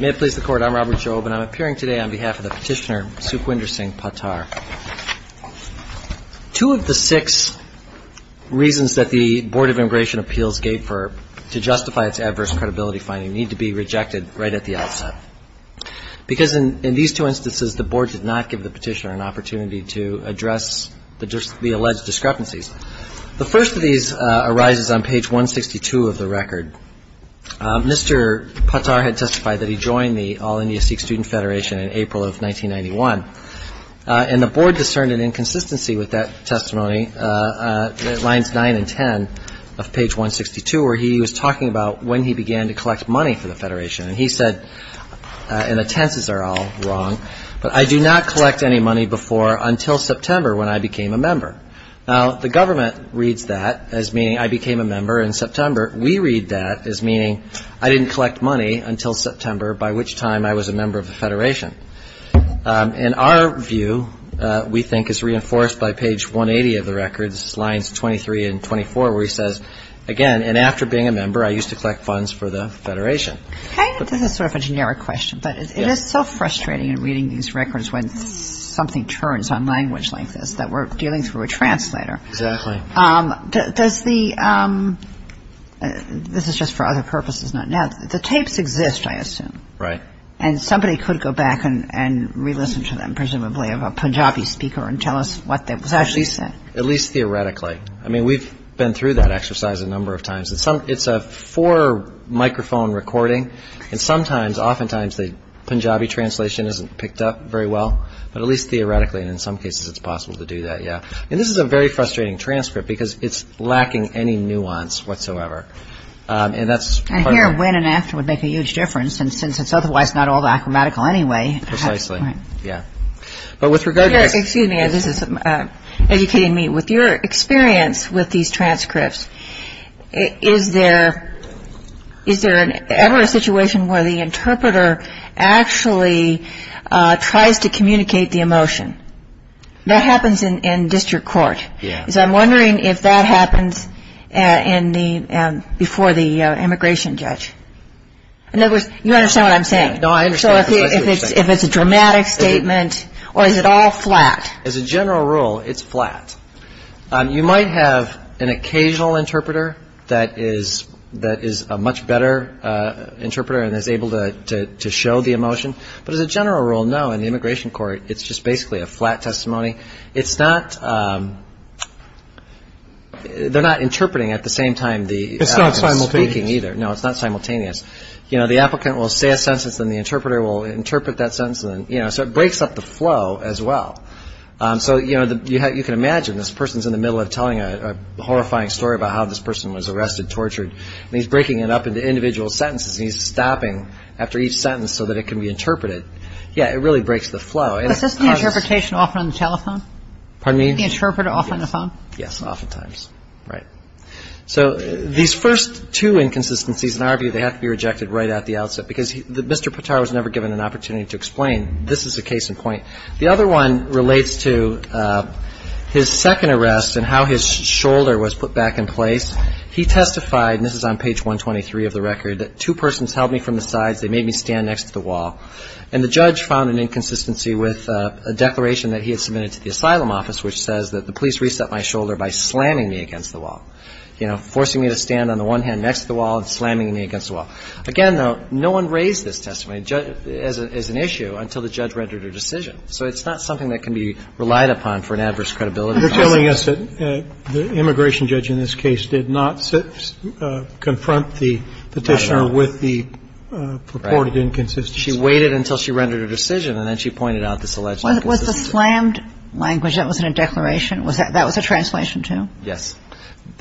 May it please the Court, I'm Robert Jobe and I'm appearing today on behalf of the petitioner Sukhwinder Singh Patar. Two of the six reasons that the Board of Immigration Appeals gave to justify its adverse credibility finding need to be rejected right at the outset. Because in these two instances the Board did not give the petitioner an opportunity to address the alleged discrepancies. The first of these arises on page 162 of the record. Mr. Patar had testified that he joined the All-India Sikh Student Federation in April of 1991. And the Board discerned an inconsistency with that testimony, lines 9 and 10 of page 162 where he was talking about when he began to collect money for the federation. And he said, and the tenses are all wrong, but I do not collect any money before until September when I became a member. Now the government reads that as meaning I became a member in September. We read that as meaning I didn't collect money until September by which time I was a member of the federation. In our view we think it's reinforced by page 180 of the records, lines 23 and 24 where he says, again, and after being a member I used to collect funds for the federation. This is sort of a generic question, but it is so frustrating in reading these records when something turns on language like this that we're dealing through a translator. Exactly. Does the, this is just for other purposes. Now the tapes exist, I assume. Right. And somebody could go back and re-listen to them, presumably of a Punjabi speaker and tell us what that was actually said. At least theoretically. I mean we've been through that exercise a number of times. It's a four microphone recording and sometimes, oftentimes the Punjabi translation isn't picked up very well, but at least theoretically and in some cases it's possible to do that, yeah. And this is a very frustrating transcript because it's lacking any nuance whatsoever. And that's part of the And here when and after would make a huge difference since it's otherwise not all the acrobatical anyway. Precisely. Right. Yeah. But with regard to Excuse me, this is educating me. With your experience with these transcripts, is there ever a situation where the interpreter actually tries to communicate the emotion? That happens in district court. Yeah. So I'm wondering if that happens in the, before the immigration judge. In other words, you understand what I'm saying? No, I understand what you're saying. So if it's a dramatic statement or is it all flat? As a general rule, it's flat. You might have an occasional interpreter that is, that is a much better interpreter and is able to show the emotion. But as a general rule, no, in not, they're not interpreting at the same time the It's not simultaneous. It's not speaking either. No, it's not simultaneous. You know, the applicant will say a sentence and the interpreter will interpret that sentence and then, you know, so it breaks up the flow as well. So, you know, you can imagine this person's in the middle of telling a horrifying story about how this person was arrested, tortured, and he's breaking it up into individual sentences and he's stopping after each sentence so that it can be interpreted. Yeah, it really breaks the flow. Is this the interpretation often on the telephone? Pardon me? The interpreter often on the phone? Yes, oftentimes. Right. So these first two inconsistencies, in our view, they have to be rejected right at the outset because Mr. Patar was never given an opportunity to explain this is a case in point. The other one relates to his second arrest and how his shoulder was put back in place. He testified, and this is on page 123 of the record, that two persons held me from the sides. They made me stand next to the wall. And the judge found an inconsistency with a declaration that he had submitted to the asylum office, which says that the police reset my shoulder by slamming me against the wall, you know, forcing me to stand on the one hand next to the wall and slamming me against the wall. Again, though, no one raised this testimony as an issue until the judge rendered a decision. So it's not something that can be relied upon for an adverse credibility. You're telling us that the immigration judge in this case did not confront the Petitioner with the purported inconsistency. She waited until she rendered a decision, and then she pointed out this alleged inconsistency. Was the slammed language, that was in a declaration? That was a translation, too? Yes.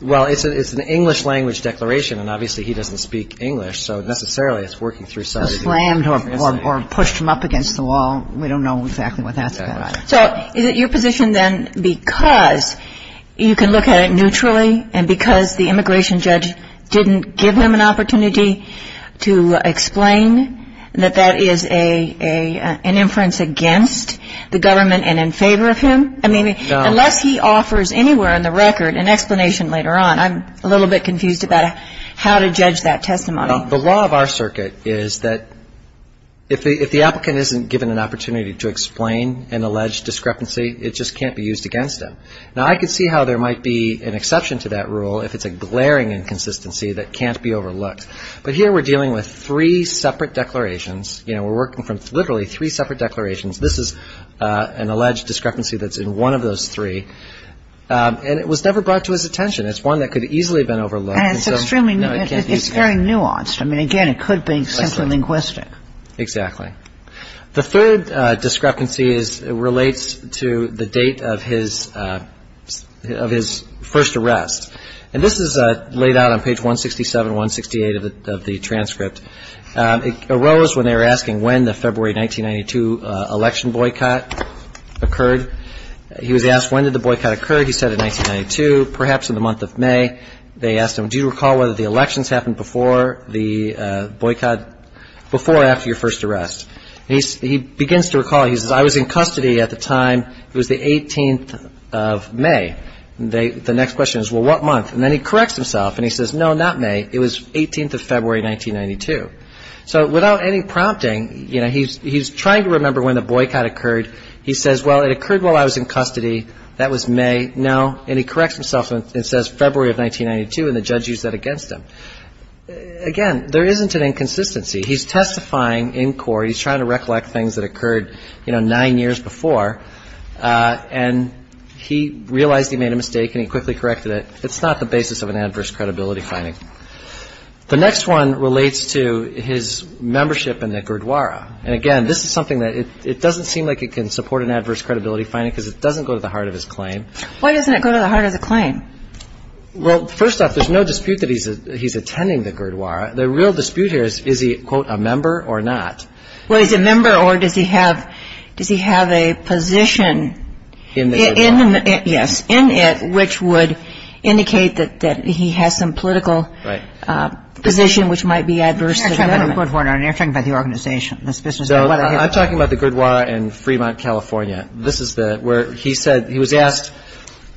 Well, it's an English-language declaration, and obviously he doesn't speak English, so necessarily it's working through sighted hearing. The slammed or pushed him up against the wall, we don't know exactly what that's about. So is it your position then because you can look at it neutrally and because the immigration judge didn't give him an opportunity to explain that that is an inference against the government and in favor of him? I mean, unless he offers anywhere in the record an explanation later on, I'm a little bit confused about how to judge that testimony. The law of our circuit is that if the applicant isn't given an opportunity to explain an alleged discrepancy, it just can't be used against them. Now, I could see how there might be an exception to that rule if it's a glaring inconsistency that can't be overlooked. But here we're dealing with three separate declarations. You know, we're working from literally three separate declarations. This is an alleged discrepancy that's in one of those three, and it was never brought to his attention. It's one that could have easily been overlooked, and so it can't be used against him. And it's extremely nuanced. I mean, again, it could be simply linguistic. Exactly. The third discrepancy relates to the date of his first hearing. And this is laid out on page 167, 168 of the transcript. It arose when they were asking when the February 1992 election boycott occurred. He was asked, when did the boycott occur? He said in 1992, perhaps in the month of May. They asked him, do you recall whether the elections happened before the boycott, before or after your first arrest? And he begins to recall. He says, I was in custody at the time. It was the 18th of May. The next question is, well, what month? And then he corrects himself, and he says, no, not May. It was 18th of February, 1992. So without any prompting, you know, he's trying to remember when the boycott occurred. He says, well, it occurred while I was in custody. That was May. No. And he corrects himself and says February of 1992, and the judge used that against him. Again, there isn't an inconsistency. He's testifying in court. He's trying to recollect things that occurred, you know, nine years before. And he realized he made a mistake, and he quickly corrected it. It's not the basis of an adverse credibility finding. The next one relates to his membership in the Gurdwara. And, again, this is something that it doesn't seem like it can support an adverse credibility finding because it doesn't go to the heart of his claim. Why doesn't it go to the heart of the claim? Well, first off, there's no dispute that he's attending the Gurdwara. The real dispute here is, is he, quote, a member or not? Well, is he a member or does he have a position in the Gurdwara? Yes. In it, which would indicate that he has some political position which might be adverse to the government. You're talking about the organization. I'm talking about the Gurdwara in Fremont, California. This is where he said he was asked,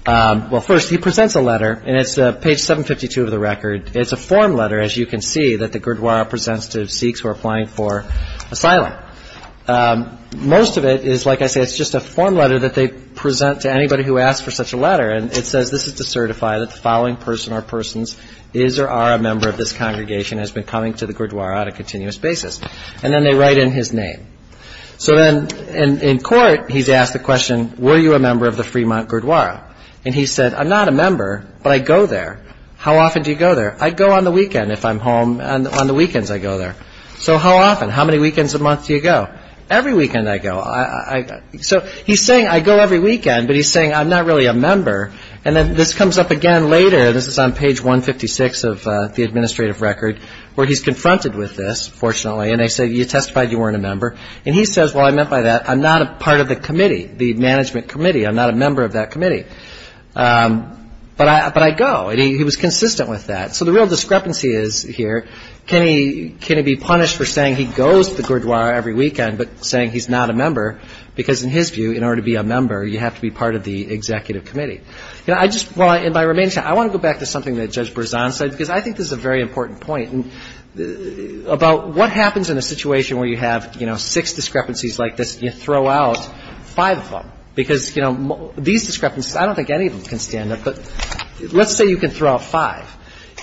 well, first he presents a letter, and it's page 752 of the record. It's a form letter, as you can see, that the Gurdwara presents to Sikhs who are applying for asylum. Most of it is, like I said, it's just a form letter that they present to anybody who asks for such a letter. And it says this is to certify that the following person or persons is or are a member of this congregation and has been coming to the Gurdwara on a continuous basis. And then they write in his name. So then in court, he's asked the question, were you a member of the Fremont Gurdwara? And he said, I'm not a member, but I go there. How often do you go there? I go on the weekend if I'm home, and on the weekends I go there. So how often? How many weekends a month do you go? Every weekend I go. So he's saying I go every weekend, but he's saying I'm not really a member. And then this comes up again later. This is on page 156 of the administrative record, where he's confronted with this, fortunately, and they say you testified you weren't a member. And he says, well, I meant by that, I'm not a part of the committee, the management committee. I'm not a member of that committee. But I go. And he was consistent with that. So the real discrepancy is here, can he be punished for saying he goes to the Gurdwara every weekend, but saying he's not a member, because in his view, in order to be a member, you have to be part of the executive committee. I just want to go back to something that Judge Berzon said, because I think this is a very important point about what happens in a situation where you have, you know, six discrepancies like this, and you throw out five of them. Because, you know, these discrepancies, I don't think any of them can stand up. But let's say you can throw out five,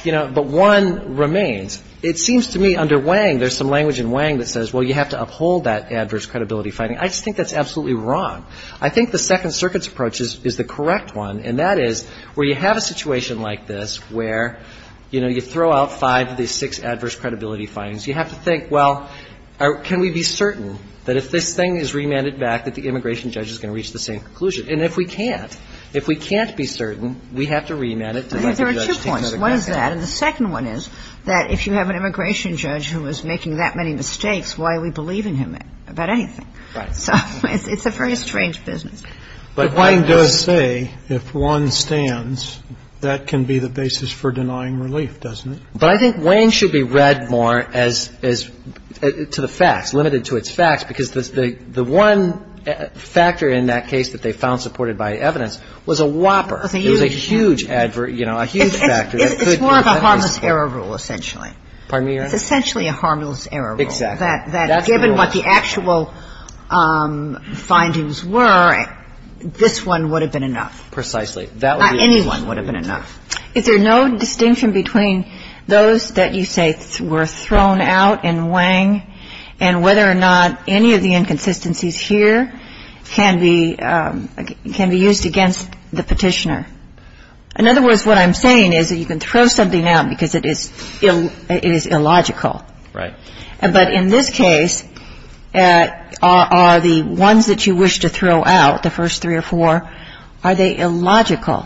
you know, but one remains. It seems to me under Wang, there's some language in Wang that says, well, you have to uphold that adverse credibility finding. I just think that's absolutely wrong. I think the Second Circuit's approach is the correct one, and that is where you have a situation like this where, you know, you throw out five of these six adverse credibility findings, you have to think, well, can we be certain that if this thing is remanded back that the immigration judge is going to reach the same conclusion? And if we can't, if we can't be certain, we have to remand it to let the judge think that again. I think there are two points. One is that, and the second one is that if you have an immigration judge who is making that many mistakes, why are we believing him about anything? So it's a very strange business. But Wang does say if one stands, that can be the basis for denying relief, doesn't it? But I think Wang should be read more as to the facts, limited to its facts, because the one factor in that case that they found supported by evidence was a whopper. It was a huge advert, you know, a huge factor. It's more of a harmless error rule, essentially. Pardon me, Your Honor? It's essentially a harmless error rule. Exactly. That given what the actual findings were, this one would have been enough. Precisely. Not any one would have been enough. Is there no distinction between those that you say were thrown out in Wang and whether or not any of the inconsistencies here can be used against the petitioner? In other words, what I'm saying is that you can throw something out because it is illogical. Right. But in this case, are the ones that you wish to throw out, the first three or four, are they illogical?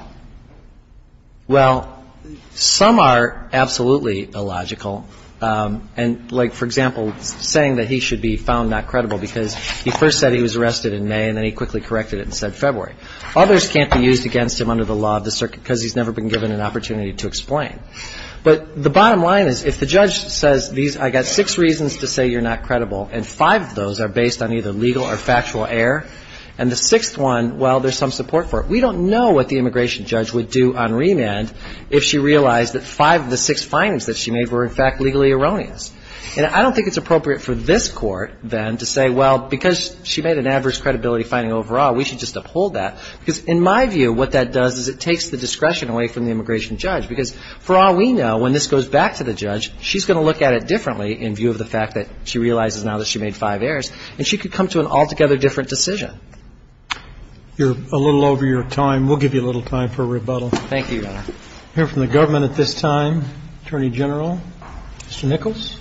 Well, some are absolutely illogical. And like, for example, saying that he should be found not credible because he first said he was arrested in May and then he quickly corrected it and said February. Others can't be used against him under the law of the circuit because he's never been given an opportunity to explain. But the bottom line is, if the judge says, I've got six reasons to say you're not credible, and five of those are based on either legal or factual error, and the sixth one, well, there's some support for it. We don't know what the immigration judge would do on remand if she realized that five of the six findings that she made were, in fact, legally erroneous. And I don't think it's appropriate for this Court, then, to say, well, because she made an adverse credibility finding overall, we should just uphold that. Because in my view, what that does is it takes the discretion away from the immigration judge. Because for all we know, when this goes back to the judge, she's going to look at it differently in view of the fact that she realizes now that she made five errors, and she could come to an altogether different decision. You're a little over your time. We'll give you a little time for rebuttal. Thank you, Your Honor. I hear from the government at this time, Attorney General. Mr. Nichols.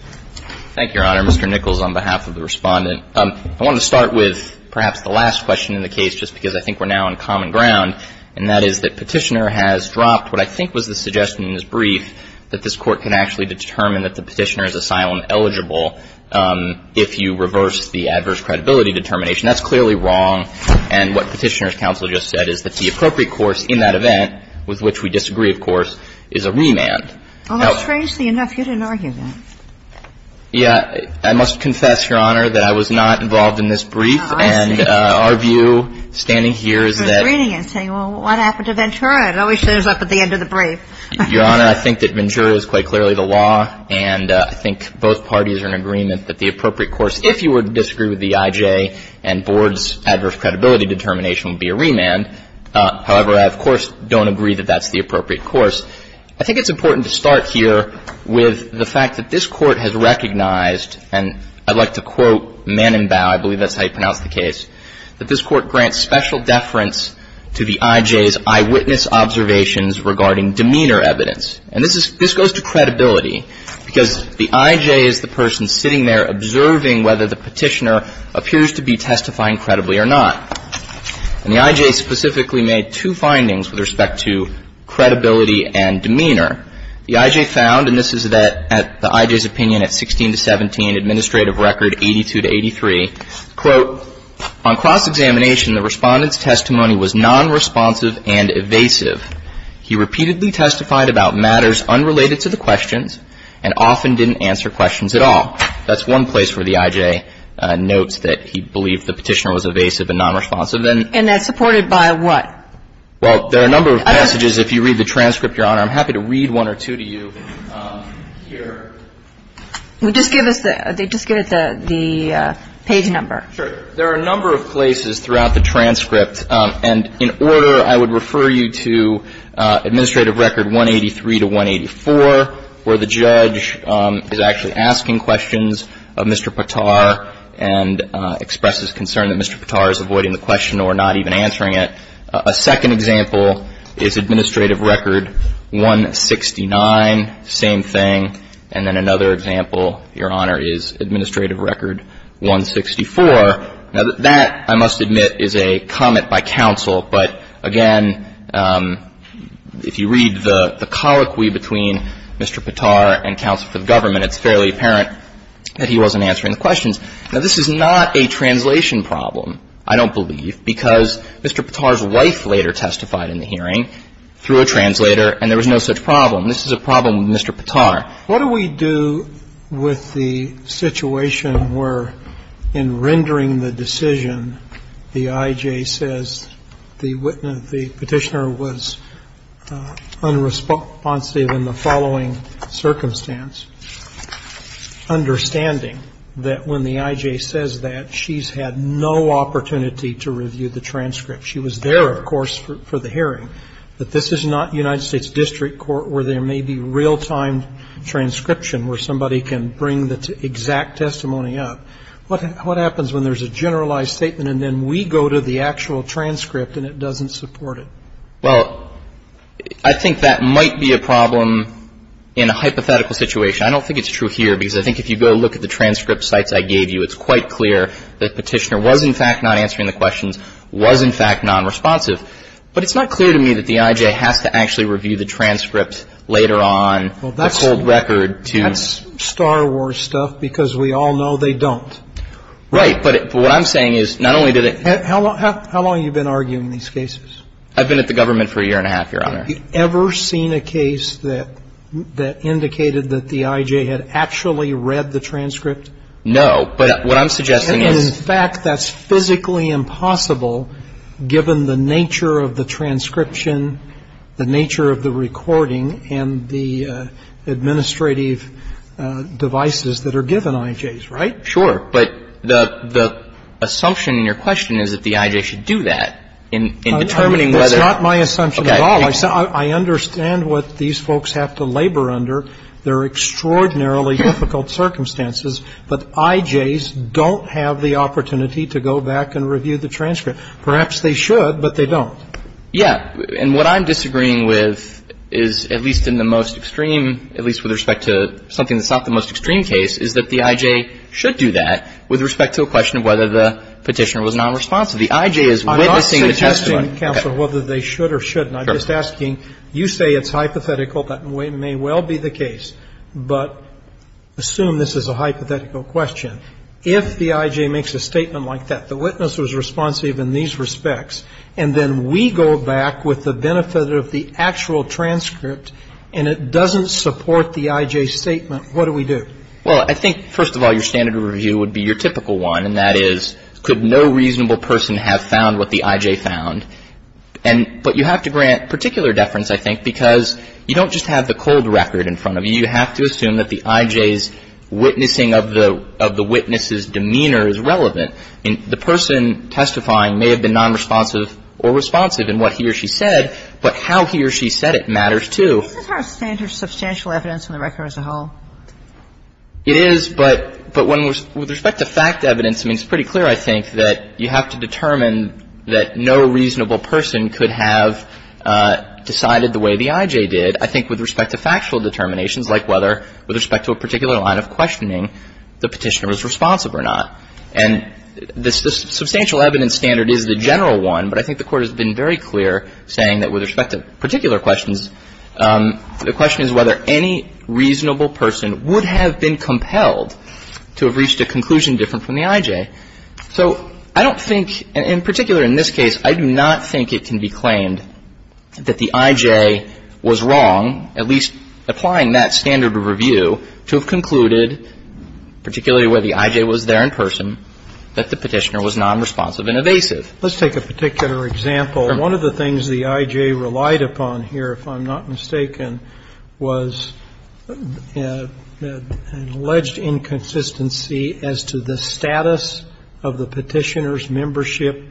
Thank you, Your Honor. Mr. Nichols, on behalf of the Respondent. I want to start with perhaps the last question in the case, just because I think we're now on common ground, and that is that Petitioner has dropped what I think was the suggestion in his brief that this Court can actually determine that the Petitioner is asylum eligible if you reverse the adverse credibility determination. That's clearly wrong. And what Petitioner's counsel just said is that the appropriate course in that event with which we disagree, of course, is a remand. Well, strangely enough, you didn't argue that. Yeah. I must confess, Your Honor, that I was not involved in this brief. Oh, I see. And our view standing here is that. I was reading it, saying, well, what happened to Ventura? It always shows up at the end of the brief. Your Honor, I think that Ventura is quite clearly the law, and I think both parties are in agreement that the appropriate course, if you were to disagree with the IJ and Board's adverse credibility determination, would be a remand. However, I, of course, don't agree that that's the appropriate course. I think it's important to start here with the fact that this Court has recognized and I'd like to quote Manenbau, I believe that's how you pronounce the case, that this Court grants special deference to the IJ's eyewitness observations regarding demeanor evidence. And this goes to credibility, because the IJ is the person sitting there observing whether the Petitioner appears to be testifying credibly or not. And the IJ specifically made two findings with respect to credibility and demeanor. The IJ found, and this is the IJ's opinion at 16 to 17, Administrative Record 82 to 83, quote, on cross-examination, the Respondent's testimony was non-responsive and evasive. He repeatedly testified about matters unrelated to the questions and often didn't answer questions at all. That's one place where the IJ notes that he believed the Petitioner was evasive and non-responsive. And that's supported by what? Well, there are a number of passages. If you read the transcript, Your Honor, I'm happy to read one or two to you here. Just give us the page number. Sure. There are a number of places throughout the transcript. And in order, I would refer you to Administrative Record 183 to 184, where the judge is actually asking questions of Mr. Patar and expresses concern that Mr. Patar is avoiding the question or not even answering it. A second example is Administrative Record 169, same thing. And then another example, Your Honor, is Administrative Record 164. Now, that, I must admit, is a comment by counsel. But again, if you read the colloquy between Mr. Patar and counsel for the government, it's fairly apparent that he wasn't answering the questions. Now, this is not a translation problem, I don't believe, because Mr. Patar's wife later testified in the hearing through a translator and there was no such problem. This is a problem with Mr. Patar. What do we do with the situation where in rendering the decision, the I.J. says the witness, the Petitioner was unresponsive in the following circumstance, understanding that when the I.J. says that, she's had no opportunity to review the transcript. She was there, of course, for the hearing. But this is not United States District Court where there may be real-time transcription where somebody can bring the exact testimony up. What happens when there's a generalized statement and then we go to the actual transcript and it doesn't support it? Well, I think that might be a problem in a hypothetical situation. I don't think it's true here because I think if you go look at the transcript sites I gave you, it's quite clear that Petitioner was, in fact, not answering the questions, was, in fact, nonresponsive. But it's not clear to me that the I.J. has to actually review the transcript later on, the cold record, to ---- Well, that's Star Wars stuff because we all know they don't. Right. But what I'm saying is not only did it ---- How long have you been arguing these cases? I've been at the government for a year and a half, Your Honor. Have you ever seen a case that indicated that the I.J. had actually read the transcript? No. But what I'm suggesting is ---- Well, it's the nature of the transcription, the nature of the recording and the administrative devices that are given I.J.'s, right? Sure. But the assumption in your question is that the I.J. should do that in determining whether ---- That's not my assumption at all. I understand what these folks have to labor under. They're extraordinarily difficult circumstances. But I.J.'s don't have the opportunity to go back and review the transcript. Perhaps they should, but they don't. Yeah. And what I'm disagreeing with is, at least in the most extreme, at least with respect to something that's not the most extreme case, is that the I.J. should do that with respect to a question of whether the Petitioner was nonresponsive. The I.J. is witnessing the testimony. I'm not suggesting, Counselor, whether they should or shouldn't. I'm just asking. You say it's hypothetical. That may well be the case. But assume this is a hypothetical question. If the I.J. makes a statement like that, the witness was responsive in these respects, and then we go back with the benefit of the actual transcript, and it doesn't support the I.J.'s statement, what do we do? Well, I think, first of all, your standard of review would be your typical one, and that is, could no reasonable person have found what the I.J. found? But you have to grant particular deference, I think, because you don't just have the cold record in front of you. You have to assume that the I.J.'s witnessing of the witness's demeanor is relevant. And the person testifying may have been nonresponsive or responsive in what he or she said, but how he or she said it matters, too. Isn't her standard substantial evidence in the record as a whole? It is, but when we're – with respect to fact evidence, I mean, it's pretty clear, I think, that you have to determine that no reasonable person could have decided the way the I.J. did. And I think with respect to factual determinations, like whether – with respect to a particular line of questioning, the Petitioner was responsive or not. And the substantial evidence standard is the general one, but I think the Court has been very clear saying that with respect to particular questions, the question is whether any reasonable person would have been compelled to have reached a conclusion different from the I.J. So I don't think – and in particular in this case, I do not think it can be claimed that the I.J. was wrong, at least applying that standard of review, to have concluded, particularly where the I.J. was there in person, that the Petitioner was nonresponsive and evasive. Let's take a particular example. One of the things the I.J. relied upon here, if I'm not mistaken, was an alleged inconsistency as to the status of the Petitioner's membership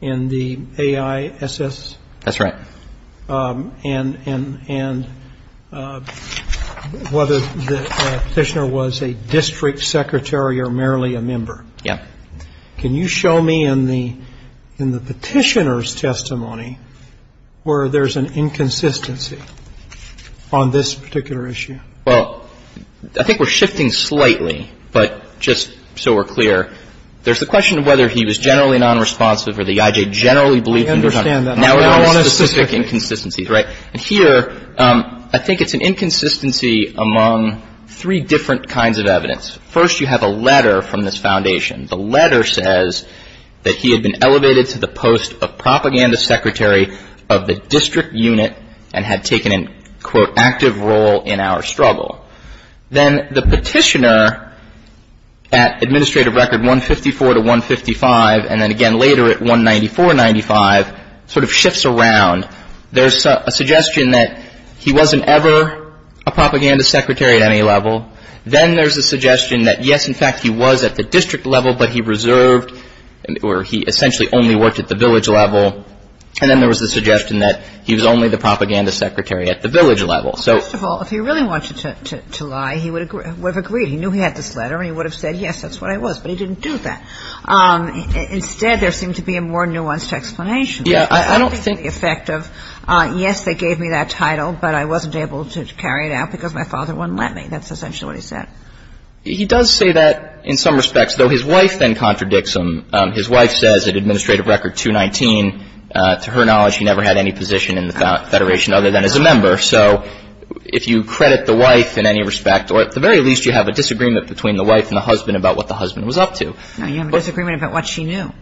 in the AISS. That's right. And whether the Petitioner was a district secretary or merely a member. Yeah. Can you show me in the Petitioner's testimony where there's an inconsistency on this particular issue? Well, I think we're shifting slightly, but just so we're clear, there's the question of whether he was generally nonresponsive or the I.J. generally believed him to be. I understand that. Now we're talking about specific inconsistencies, right? And here, I think it's an inconsistency among three different kinds of evidence. First, you have a letter from this Foundation. The letter says that he had been elevated to the post of propaganda secretary of the district unit and had taken an, quote, active role in our struggle. Then the Petitioner, at administrative record 154 to 155, and then again later at 194, 95, sort of shifts around. There's a suggestion that he wasn't ever a propaganda secretary at any level. Then there's a suggestion that, yes, in fact, he was at the district level, but he reserved or he essentially only worked at the village level. And then there was the suggestion that he was only the propaganda secretary at the village level. First of all, if he really wanted to lie, he would have agreed. He knew he had this letter, and he would have said, yes, that's what I was. But he didn't do that. Instead, there seemed to be a more nuanced explanation. Yeah, I don't think the effect of, yes, they gave me that title, but I wasn't able to carry it out because my father wouldn't let me. That's essentially what he said. He does say that in some respects, though his wife then contradicts him. His wife says at administrative record 219, to her knowledge, he never had any position in the Federation other than as a member. So if you credit the wife in any respect, or at the very least, you have a disagreement between the wife and the husband about what the husband was up to. No, you have a disagreement about what she knew.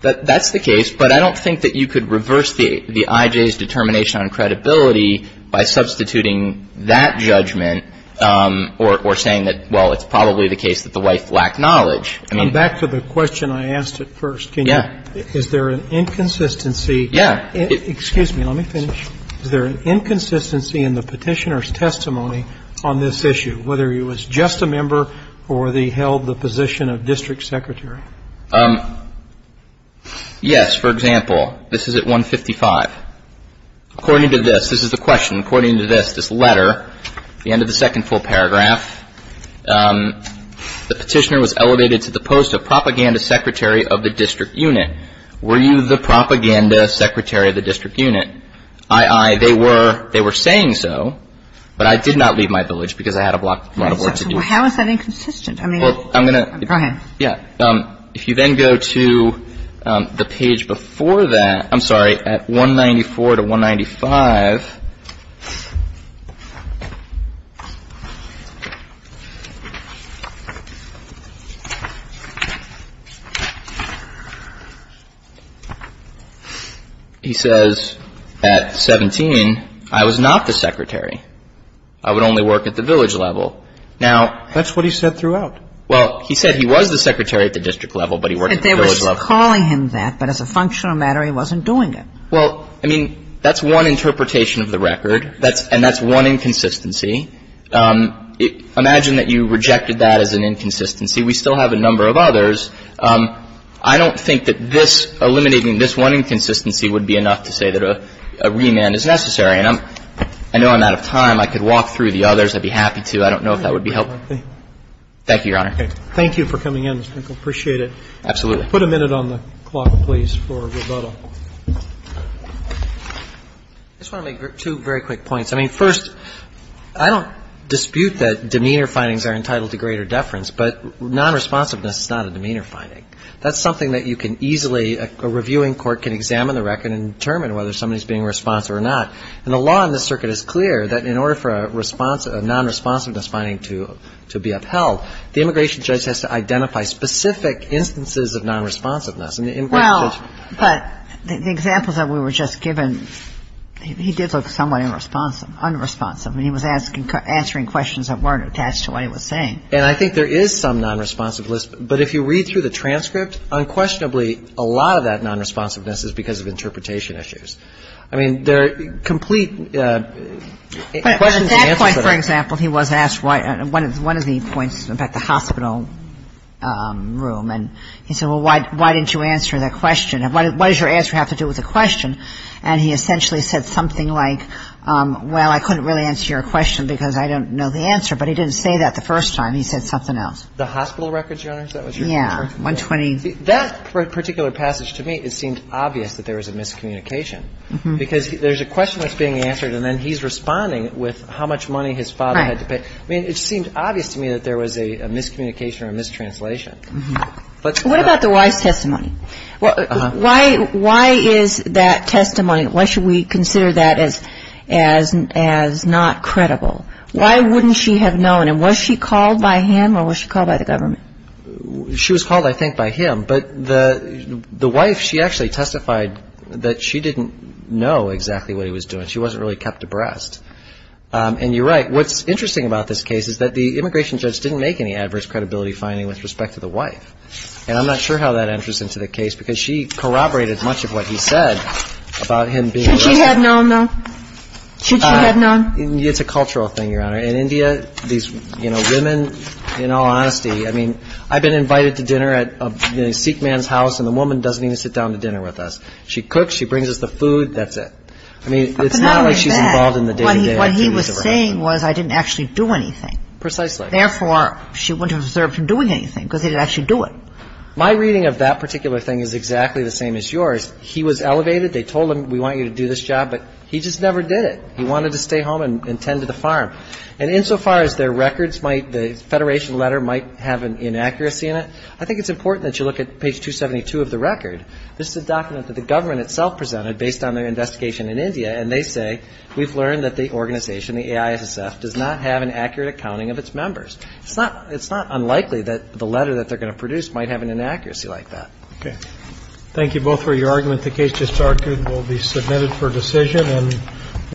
That's the case. But I don't think that you could reverse the I.J.'s determination on credibility by substituting that judgment or saying that, well, it's probably the case that the wife lacked knowledge. Back to the question I asked at first. Yeah. Is there an inconsistency? Yeah. Excuse me. Let me finish. Is there an inconsistency in the petitioner's testimony on this issue, whether he was just a member or he held the position of district secretary? Yes. For example, this is at 155. According to this, this is the question. According to this, this letter, the end of the second full paragraph, the petitioner was elevated to the post of propaganda secretary of the district unit. Were you the propaganda secretary of the district unit? Aye, aye. They were saying so. But I did not leave my village because I had a lot of work to do. How is that inconsistent? I mean, go ahead. Yeah. If you then go to the page before that, I'm sorry, at 194 to 195, he says at 17, I was not the secretary. I would only work at the village level. Now that's what he said throughout. Well, he said he was the secretary at the district level, but he worked at the village level. They were calling him that, but as a functional matter, he wasn't doing it. Well, I mean, that's one interpretation of the record. And that's one inconsistency. Imagine that you rejected that as an inconsistency. We still have a number of others. I don't think that this eliminating this one inconsistency would be enough to say that a remand is necessary. And I know I'm out of time. I could walk through the others. I'd be happy to. I don't know if that would be helpful. Thank you, Your Honor. Okay. Thank you for coming in, Mr. Finkel. Appreciate it. Absolutely. Put a minute on the clock, please, for Roberta. I just want to make two very quick points. I mean, first, I don't dispute that demeanor findings are entitled to greater deference, but nonresponsiveness is not a demeanor finding. That's something that you can easily, a reviewing court can examine the record and determine whether somebody is being responsive or not. And the law in this circuit is clear that in order for a nonresponsiveness finding to be upheld, the immigration judge has to identify specific instances of nonresponsiveness. Well, but the examples that we were just given, he did look somewhat unresponsive. I mean, he was answering questions that weren't attached to what he was saying. And I think there is some nonresponsiveness, but if you read through the transcript, unquestionably, a lot of that nonresponsiveness is because of interpretation issues. I mean, there are complete questions and answers that are But at that point, for example, he was asked one of the points about the hospital room. And he said, well, why didn't you answer that question? What does your answer have to do with the question? And he essentially said something like, well, I couldn't really answer your question because I don't know the answer. But he didn't say that the first time. He said something else. The hospital records, Your Honor, is that what you're referring to? Yeah, 120. That particular passage to me, it seemed obvious that there was a miscommunication because there's a question that's being answered, and then he's responding with how much money his father had to pay. Right. I mean, it seemed obvious to me that there was a miscommunication or a mistranslation. What about the wife's testimony? Why is that testimony, why should we consider that as not credible? Why wouldn't she have known? And was she called by him or was she called by the government? She was called, I think, by him. But the wife, she actually testified that she didn't know exactly what he was doing. She wasn't really kept abreast. And you're right. What's interesting about this case is that the immigration judge didn't make any adverse credibility finding with respect to the wife. And I'm not sure how that enters into the case because she corroborated much of what he said about him being arrested. Should she have known, though? Should she have known? It's a cultural thing, Your Honor. In India, these women, in all honesty, I mean, I've been invited to dinner at a Sikh man's house, and the woman doesn't even sit down to dinner with us. She cooks, she brings us the food, that's it. I mean, it's not like she's involved in the day-to-day activities of her husband. What I'm saying was I didn't actually do anything. Precisely. Therefore, she wouldn't have observed him doing anything because he didn't actually do it. My reading of that particular thing is exactly the same as yours. He was elevated. They told him, we want you to do this job. But he just never did it. He wanted to stay home and tend to the farm. And insofar as their records might, the Federation letter might have an inaccuracy in it, I think it's important that you look at page 272 of the record. This is a document that the government itself presented based on their investigation in India, and they say we've learned that the organization, the AISSF, does not have an accurate accounting of its members. It's not unlikely that the letter that they're going to produce might have an inaccuracy like that. Okay. Thank you both for your argument. The case just argued will be submitted for decision.